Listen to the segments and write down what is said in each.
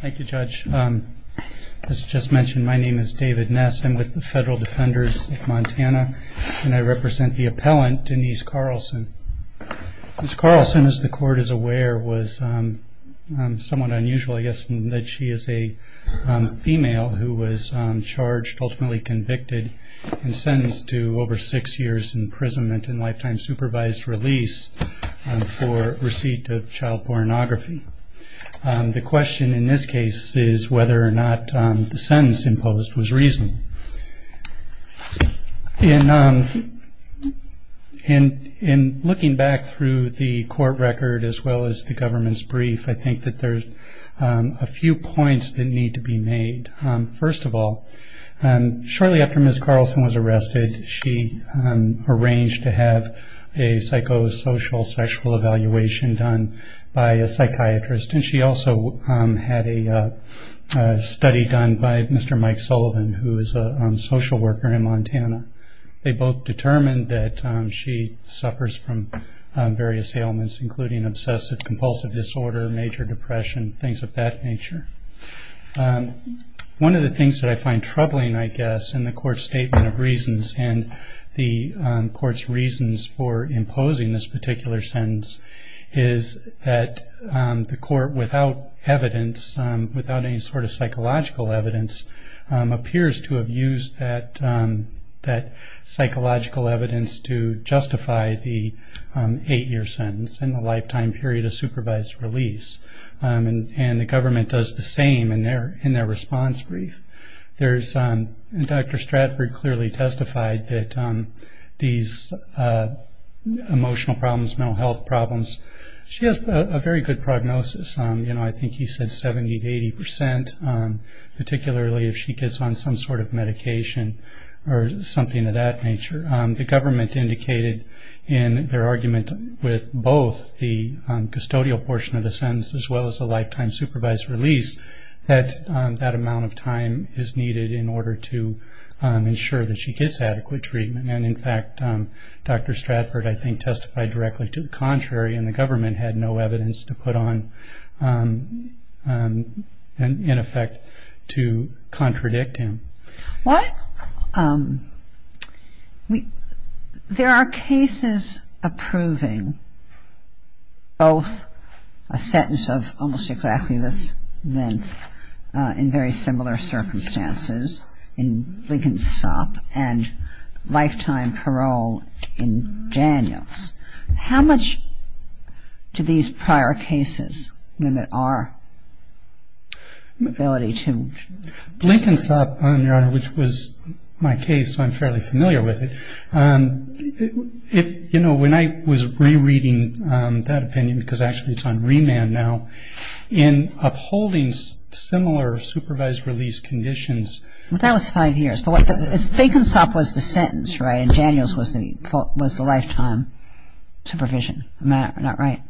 Thank you, Judge. As just mentioned, my name is David Ness. I'm with the Federal Defenders of Montana, and I represent the appellant, Denise Carlson. Ms. Carlson, as the Court is aware, was somewhat unusual, I guess, in that she is a female who was charged, ultimately convicted, and sentenced to over six years' imprisonment and lifetime supervised release for receipt of child pornography. The question in this case is whether or not the sentence imposed was reasonable. In looking back through the court record as well as the government's brief, I think that there are a few points that need to be made. First of all, shortly after Ms. Carlson was arrested, she arranged to have a psychosocial sexual evaluation done by a psychiatrist, and she also had a study done by Mr. Mike Sullivan, who is a social worker in Montana. They both determined that she suffers from various ailments, including obsessive-compulsive disorder, major depression, things of that nature. One of the things that I find troubling, I guess, in the court's statement of reasons and the court's reasons for imposing this particular sentence is that the court, without evidence, without any sort of psychological evidence, appears to have used that psychological evidence to justify the eight-year sentence and the lifetime period of supervised release. And the government does the same in their response brief. Dr. Stratford clearly testified that these emotional problems, mental health problems, she has a very good prognosis. I think he said 70 to 80 percent, particularly if she gets on some sort of medication or something of that nature. The government indicated in their argument with both the custodial portion of the sentence as well as the lifetime supervised release that that amount of time is needed in order to ensure that she gets adequate treatment. And, in fact, Dr. Stratford, I think, testified directly to the contrary, and the government had no evidence to put on, in effect, to contradict him. Well, there are cases approving both a sentence of almost exactly this length in very similar circumstances in Blinkensop and lifetime parole in Daniels. How much do these prior cases limit our ability to... Blinkensop, Your Honor, which was my case, so I'm fairly familiar with it. You know, when I was rereading that opinion, because actually it's on remand now, in upholding similar supervised release conditions... Well, that was five years. Blinkensop was the sentence, right, and Daniels was the lifetime supervision. Am I not right?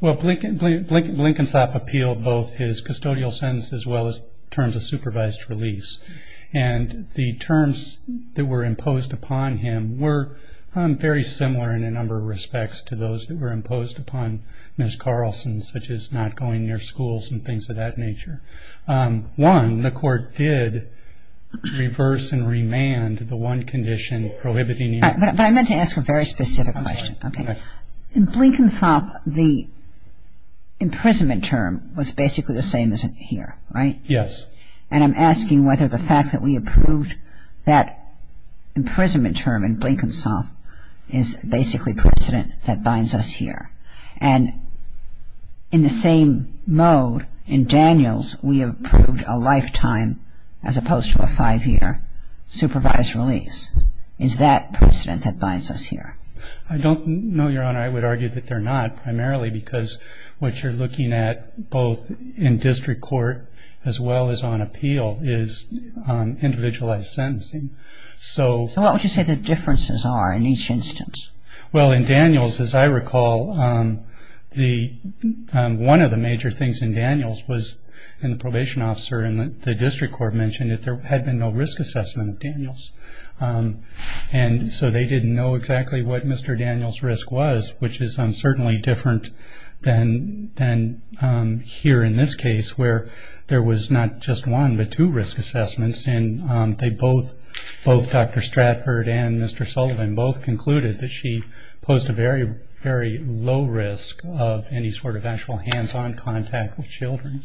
Well, Blinkensop appealed both his custodial sentence as well as terms of supervised release, and the terms that were imposed upon him were very similar in a number of respects to those that were imposed upon Ms. Carlson, such as not going near schools and things of that nature. One, the court did reverse and remand the one condition prohibiting... But I meant to ask a very specific question. In Blinkensop, the imprisonment term was basically the same as here, right? Yes. And I'm asking whether the fact that we approved that imprisonment term in Blinkensop is basically precedent that binds us here. And in the same mode, in Daniels, we approved a lifetime, as opposed to a five-year, supervised release. Is that precedent that binds us here? I don't know, Your Honor. I would argue that they're not, primarily because what you're looking at both in district court as well as on appeal is individualized sentencing. So what would you say the differences are in each instance? Well, in Daniels, as I recall, one of the major things in Daniels was in the probation officer and the district court mentioned that there had been no risk assessment of Daniels. And so they didn't know exactly what Mr. Daniels' risk was, which is certainly different than here in this case where there was not just one but two risk assessments. And both Dr. Stratford and Mr. Sullivan both concluded that she posed a very, very low risk of any sort of actual hands-on contact with children.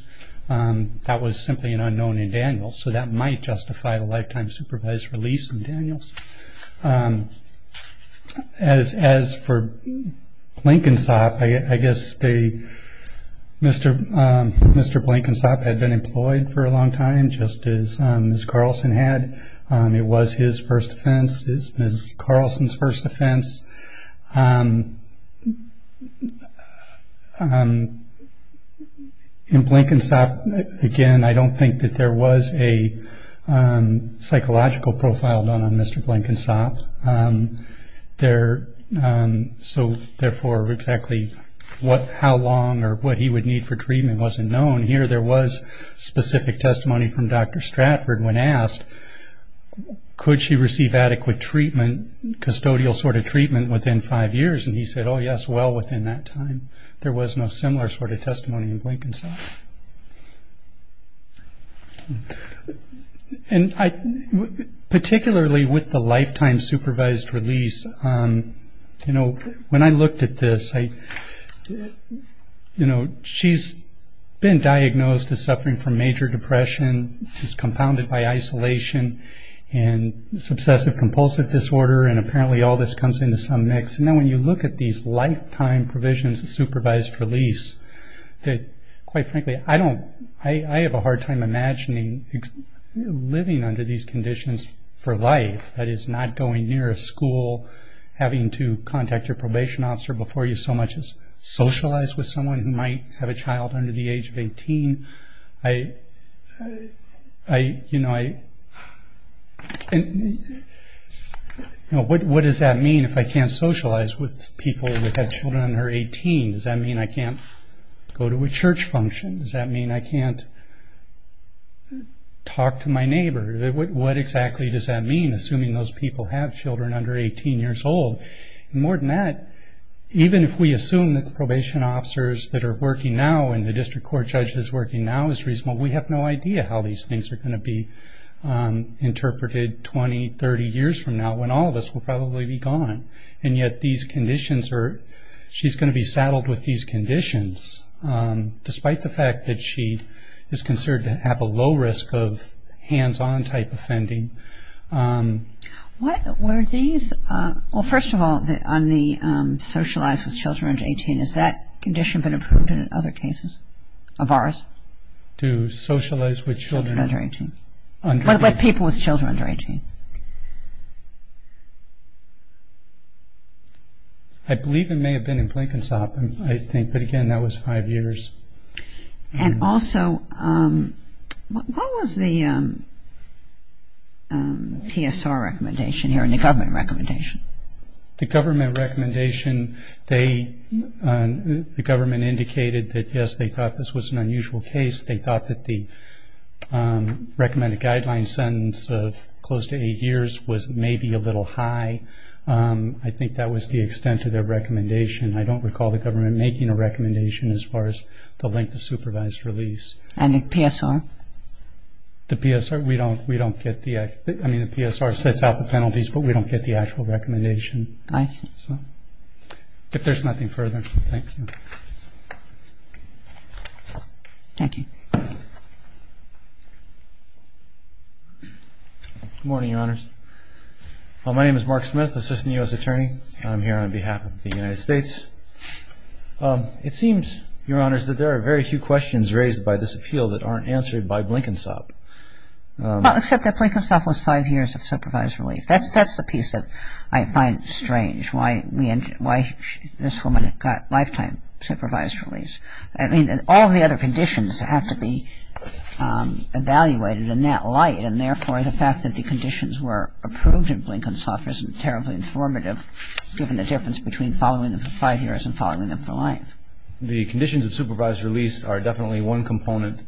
That was simply an unknown in Daniels. So that might justify a lifetime supervised release in Daniels. As for Blankensop, I guess Mr. Blankensop had been employed for a long time, just as Ms. Carlson had. It was his first offense. It was Ms. Carlson's first offense. In Blankensop, again, I don't think that there was a psychological profile done on Mr. Blankensop. So therefore, exactly how long or what he would need for treatment wasn't known. Here there was specific testimony from Dr. Stratford when asked, could she receive adequate treatment, custodial sort of treatment, within five years, and he said, oh, yes, well, within that time. There was no similar sort of testimony in Blankensop. And particularly with the lifetime supervised release, you know, when I looked at this, you know, she's been diagnosed as suffering from major depression, is compounded by isolation, and subsessive compulsive disorder, and apparently all this comes into some mix. And then when you look at these lifetime provisions of supervised release, quite frankly, I have a hard time imagining living under these conditions for life, that is not going near a school, having to contact your probation officer before you so much as socialize with someone who might have a child under the age of 18. I, you know, what does that mean if I can't socialize with people who have children under 18? Does that mean I can't go to a church function? Does that mean I can't talk to my neighbor? What exactly does that mean, assuming those people have children under 18 years old? More than that, even if we assume that the probation officers that are working now and the district court judges working now is reasonable, we have no idea how these things are going to be interpreted 20, 30 years from now, when all of us will probably be gone. And yet these conditions are – she's going to be saddled with these conditions, despite the fact that she is considered to have a low risk of hands-on type offending. What were these – well, first of all, on the socialize with children under 18, has that condition been approved in other cases of ours? To socialize with children under 18? With people with children under 18. I believe it may have been in Blenkinsop, I think, but again, that was five years. And also, what was the PSR recommendation here, the government recommendation? The government recommendation, they – the government indicated that, yes, they thought this was an unusual case. They thought that the recommended guideline sentence of close to eight years was maybe a little high. I think that was the extent of their recommendation. I don't recall the government making a recommendation as far as the length of supervised release. And the PSR? The PSR, we don't get the – I mean, the PSR sets out the penalties, but we don't get the actual recommendation. I see. If there's nothing further, thank you. Thank you. Good morning, Your Honors. My name is Mark Smith, Assistant U.S. Attorney. I'm here on behalf of the United States. It seems, Your Honors, that there are very few questions raised by this appeal that aren't answered by Blenkinsop. Well, except that Blenkinsop was five years of supervised release. That's the piece that I find strange, why this woman got lifetime supervised release. I mean, all the other conditions have to be evaluated in that light, and therefore the fact that the conditions were approved in Blenkinsop isn't terribly informative, given the difference between following them for five years and following them for life. The conditions of supervised release are definitely one component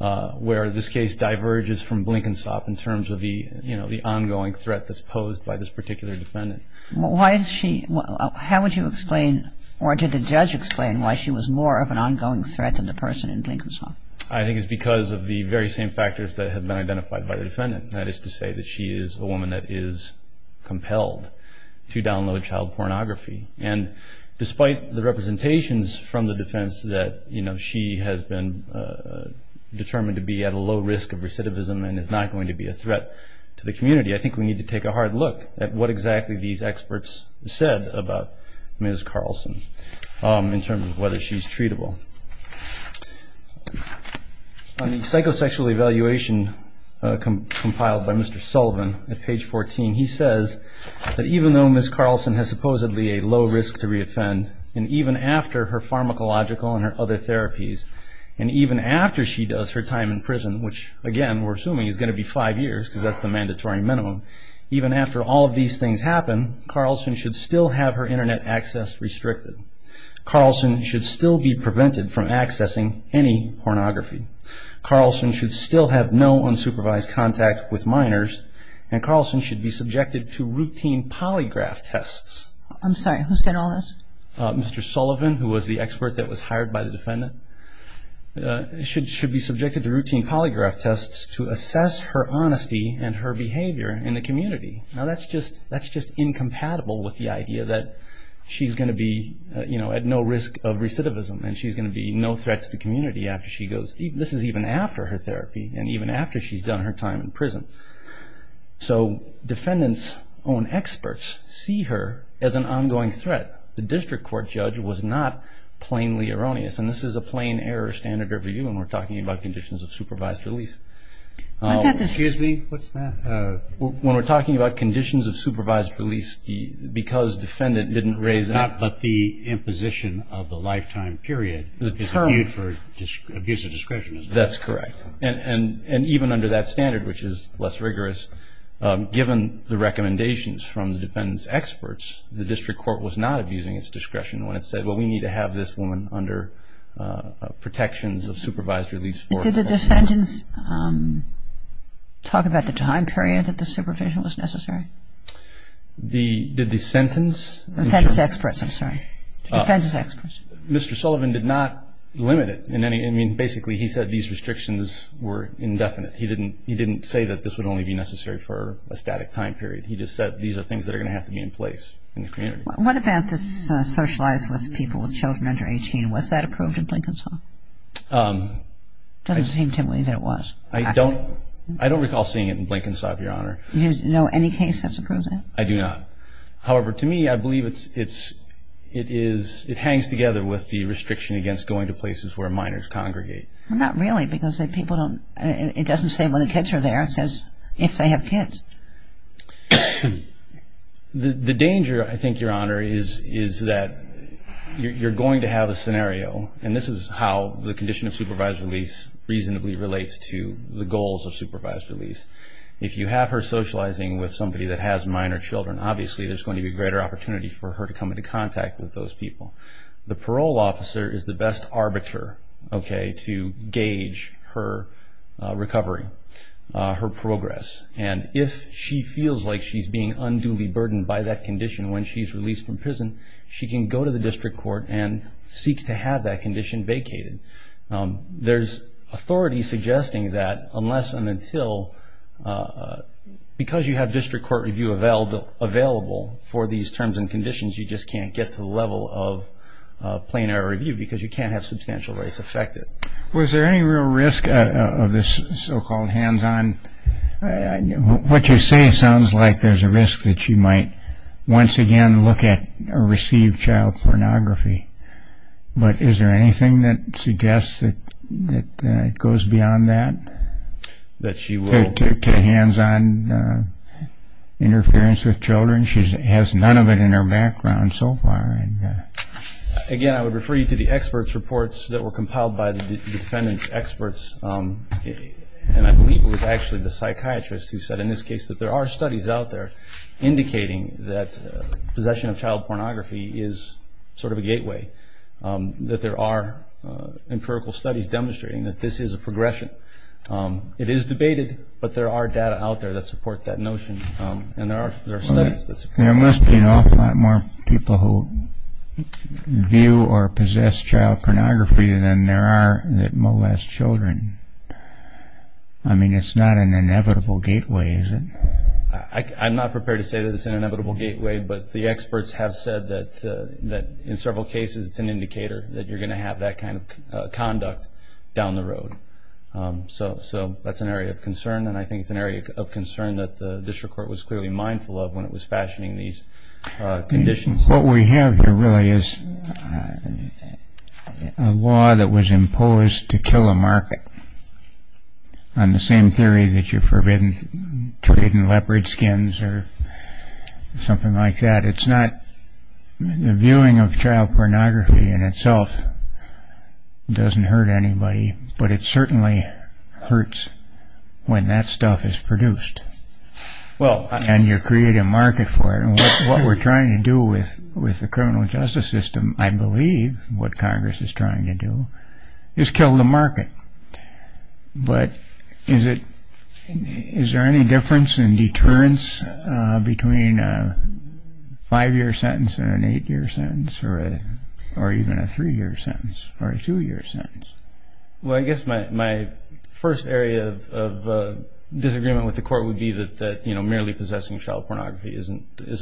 where this case diverges from Blenkinsop in terms of the ongoing threat that's posed by this particular defendant. Why is she – how would you explain, or did the judge explain, why she was more of an ongoing threat than the person in Blenkinsop? I think it's because of the very same factors that have been identified by the defendant. That is to say that she is a woman that is compelled to download child pornography. And despite the representations from the defense that, you know, she has been determined to be at a low risk of recidivism and is not going to be a threat to the community, I think we need to take a hard look at what exactly these experts said about Ms. Carlson in terms of whether she's treatable. On the psychosexual evaluation compiled by Mr. Sullivan at page 14, he says that even though Ms. Carlson has supposedly a low risk to re-offend, and even after her pharmacological and her other therapies, and even after she does her time in prison, which, again, we're assuming is going to be five years because that's the mandatory minimum, even after all of these things happen, Carlson should still have her Internet access restricted. Carlson should still be prevented from accessing any pornography. Carlson should still have no unsupervised contact with minors. And Carlson should be subjected to routine polygraph tests. I'm sorry, who said all this? Mr. Sullivan, who was the expert that was hired by the defendant, should be subjected to routine polygraph tests to assess her honesty and her behavior in the community. Now, that's just incompatible with the idea that she's going to be, you know, at no risk of recidivism and she's going to be no threat to the community after she goes... So defendants' own experts see her as an ongoing threat. The district court judge was not plainly erroneous, and this is a plain error standard review when we're talking about conditions of supervised release. Excuse me, what's that? When we're talking about conditions of supervised release, because defendant didn't raise it... It's not but the imposition of the lifetime period. The term. Abuse of discretion. That's correct. And even under that standard, which is less rigorous, given the recommendations from the defendant's experts, the district court was not abusing its discretion when it said, well, we need to have this woman under protections of supervised release for a couple of months. Did the defendant talk about the time period that the supervision was necessary? Did the sentence... Defendant's experts, I'm sorry. Defendant's experts. Mr. Sullivan did not limit it in any... I think basically he said these restrictions were indefinite. He didn't say that this would only be necessary for a static time period. He just said these are things that are going to have to be in place in the community. What about this socialize with people with children under 18? Was that approved in Blenkinsop? It doesn't seem to me that it was. I don't recall seeing it in Blenkinsop, Your Honor. Do you know any case that's approved that? I do not. However, to me, I believe it's... It is... It hangs together with the restriction against going to places where minors congregate. Well, not really because people don't... It doesn't say when the kids are there. It says if they have kids. The danger, I think, Your Honor, is that you're going to have a scenario, and this is how the condition of supervised release reasonably relates to the goals of supervised release. If you have her socializing with somebody that has minor children, obviously there's going to be a greater opportunity for her to come into contact with those people. The parole officer is the best arbiter to gauge her recovery, her progress. And if she feels like she's being unduly burdened by that condition when she's released from prison, she can go to the district court and seek to have that condition vacated. There's authority suggesting that unless and until, because you have district court review available for these terms and conditions, you just can't get to the level of plain error review because you can't have substantial rights affected. Was there any real risk of this so-called hands-on? What you say sounds like there's a risk that she might once again look at or receive child pornography. But is there anything that suggests that it goes beyond that? That she will. To hands-on interference with children? She has none of it in her background so far. Again, I would refer you to the experts' reports that were compiled by the defendant's experts, and I believe it was actually the psychiatrist who said in this case that there are studies out there indicating that possession of child pornography is sort of a gateway, that there are empirical studies demonstrating that this is a progression. It is debated, but there are data out there that support that notion, and there are studies that support it. There must be an awful lot more people who view or possess child pornography than there are that molest children. I mean, it's not an inevitable gateway, is it? I'm not prepared to say that it's an inevitable gateway, but the experts have said that in several cases it's an indicator that you're going to have that kind of conduct down the road. So that's an area of concern, and I think it's an area of concern that the district court was clearly mindful of when it was fashioning these conditions. What we have here really is a law that was imposed to kill a market on the same theory that you're forbidden to trade in leopard skins or something like that. The viewing of child pornography in itself doesn't hurt anybody, but it certainly hurts when that stuff is produced, and you create a market for it. What we're trying to do with the criminal justice system, I believe, what Congress is trying to do is kill the market. But is there any difference in deterrence between a five-year sentence and an eight-year sentence, or even a three-year sentence or a two-year sentence? Well, I guess my first area of disagreement with the court would be that merely possessing child pornography is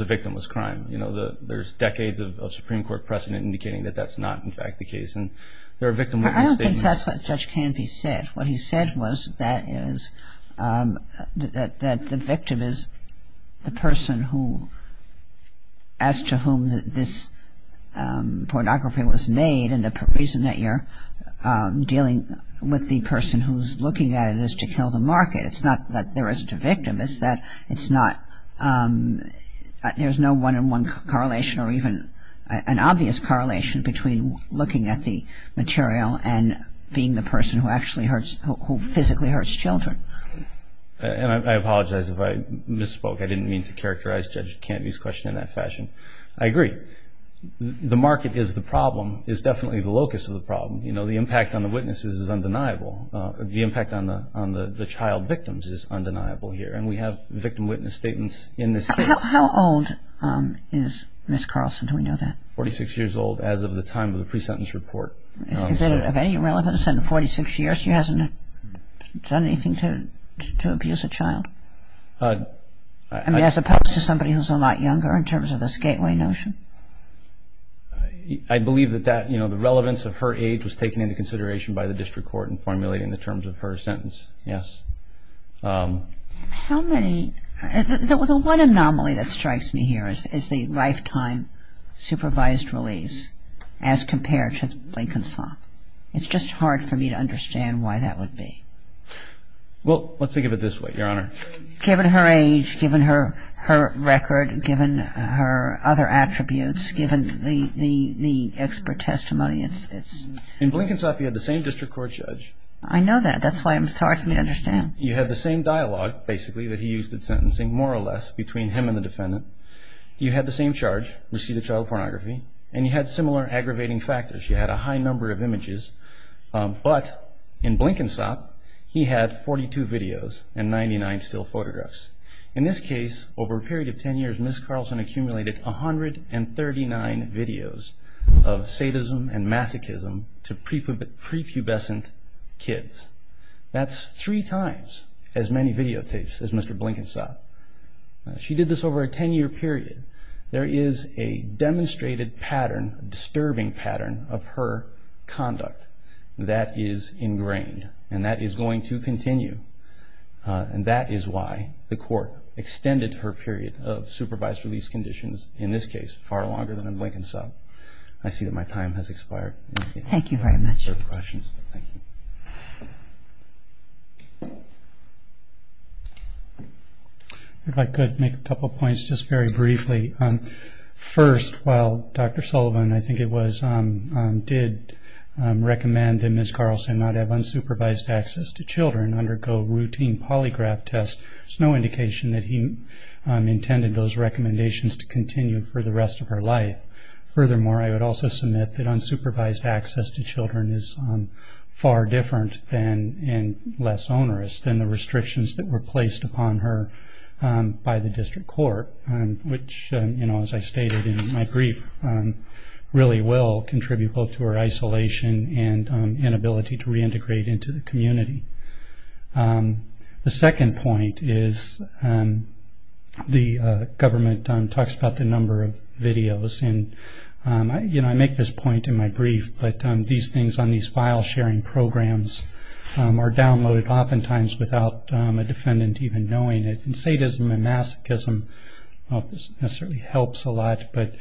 a victimless crime. You know, there's decades of Supreme Court precedent indicating that that's not, in fact, the case, and they're a victim with these statements. I don't think that's what Judge Canby said. What he said was that the victim is the person as to whom this pornography was made, and the reason that you're dealing with the person who's looking at it is to kill the market. It's not that there is to victim. It's that it's not, there's no one-on-one correlation or even an obvious correlation between looking at the material and being the person who actually hurts, who physically hurts children. And I apologize if I misspoke. I didn't mean to characterize Judge Canby's question in that fashion. I agree. The market is the problem, is definitely the locus of the problem. You know, the impact on the witnesses is undeniable. The impact on the child victims is undeniable here, and we have victim witness statements in this case. How old is Ms. Carlson? Do we know that? Forty-six years old as of the time of the pre-sentence report. Is it of any relevance in the 46 years she hasn't done anything to abuse a child? I mean, as opposed to somebody who's a lot younger in terms of the Skateway notion? I believe that that, you know, the relevance of her age was taken into consideration by the district court in formulating the terms of her sentence, yes. How many, the one anomaly that strikes me here is the lifetime supervised release as compared to Blankensop. It's just hard for me to understand why that would be. Well, let's think of it this way, Your Honor. Given her age, given her record, given her other attributes, given the expert testimony, it's... In Blankensop, you had the same district court judge. I know that. That's why it's hard for me to understand. You had the same dialogue, basically, that he used at sentencing, more or less, between him and the defendant. You had the same charge, received a child pornography, and you had similar aggravating factors. You had a high number of images. But in Blankensop, he had 42 videos and 99 still photographs. In this case, over a period of 10 years, Ms. Carlson accumulated 139 videos of sadism and masochism to prepubescent kids. That's three times as many videotapes as Mr. Blankensop. She did this over a 10-year period. There is a demonstrated pattern, a disturbing pattern, of her conduct that is ingrained, and that is going to continue. And that is why the court extended her period of supervised release conditions, in this case, far longer than in Blankensop. I see that my time has expired. Thank you very much. Thank you. If I could make a couple of points, just very briefly. First, while Dr. Sullivan, I think it was, did recommend that Ms. Carlson not have unsupervised access to children, undergo routine polygraph tests, there's no indication that he intended those recommendations to continue for the rest of her life. Furthermore, I would also submit that unsupervised access to children is far different and less onerous than the restrictions that were placed upon her by the district court, which, as I stated in my brief, really will contribute both to her isolation and inability to reintegrate into the community. The second point is the government talks about the number of videos. And, you know, I make this point in my brief, but these things on these file-sharing programs are downloaded oftentimes without a defendant even knowing it. And sadism and masochism, I don't know if this necessarily helps a lot, but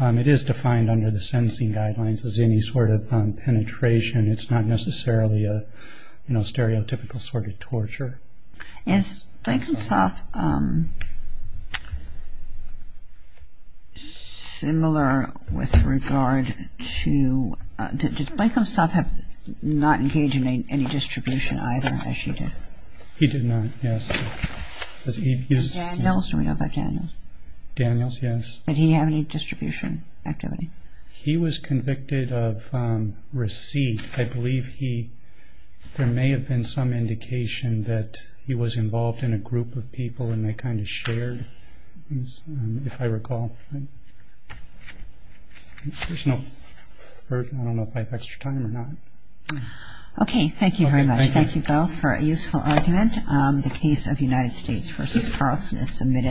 it is defined under the sentencing guidelines as any sort of penetration. It's not necessarily a stereotypical sort of torture. Is Blankensop similar with regard to, did Blankensop not engage in any distribution either, as she did? He did not, yes. Daniels, do we know about Daniels? Daniels, yes. Did he have any distribution activity? He was convicted of receipt. I believe there may have been some indication that he was involved in a group of people and they kind of shared, if I recall. There's no further, I don't know if I have extra time or not. Okay, thank you very much. Thank you both for a useful argument. The case of United States v. Carlson is submitted.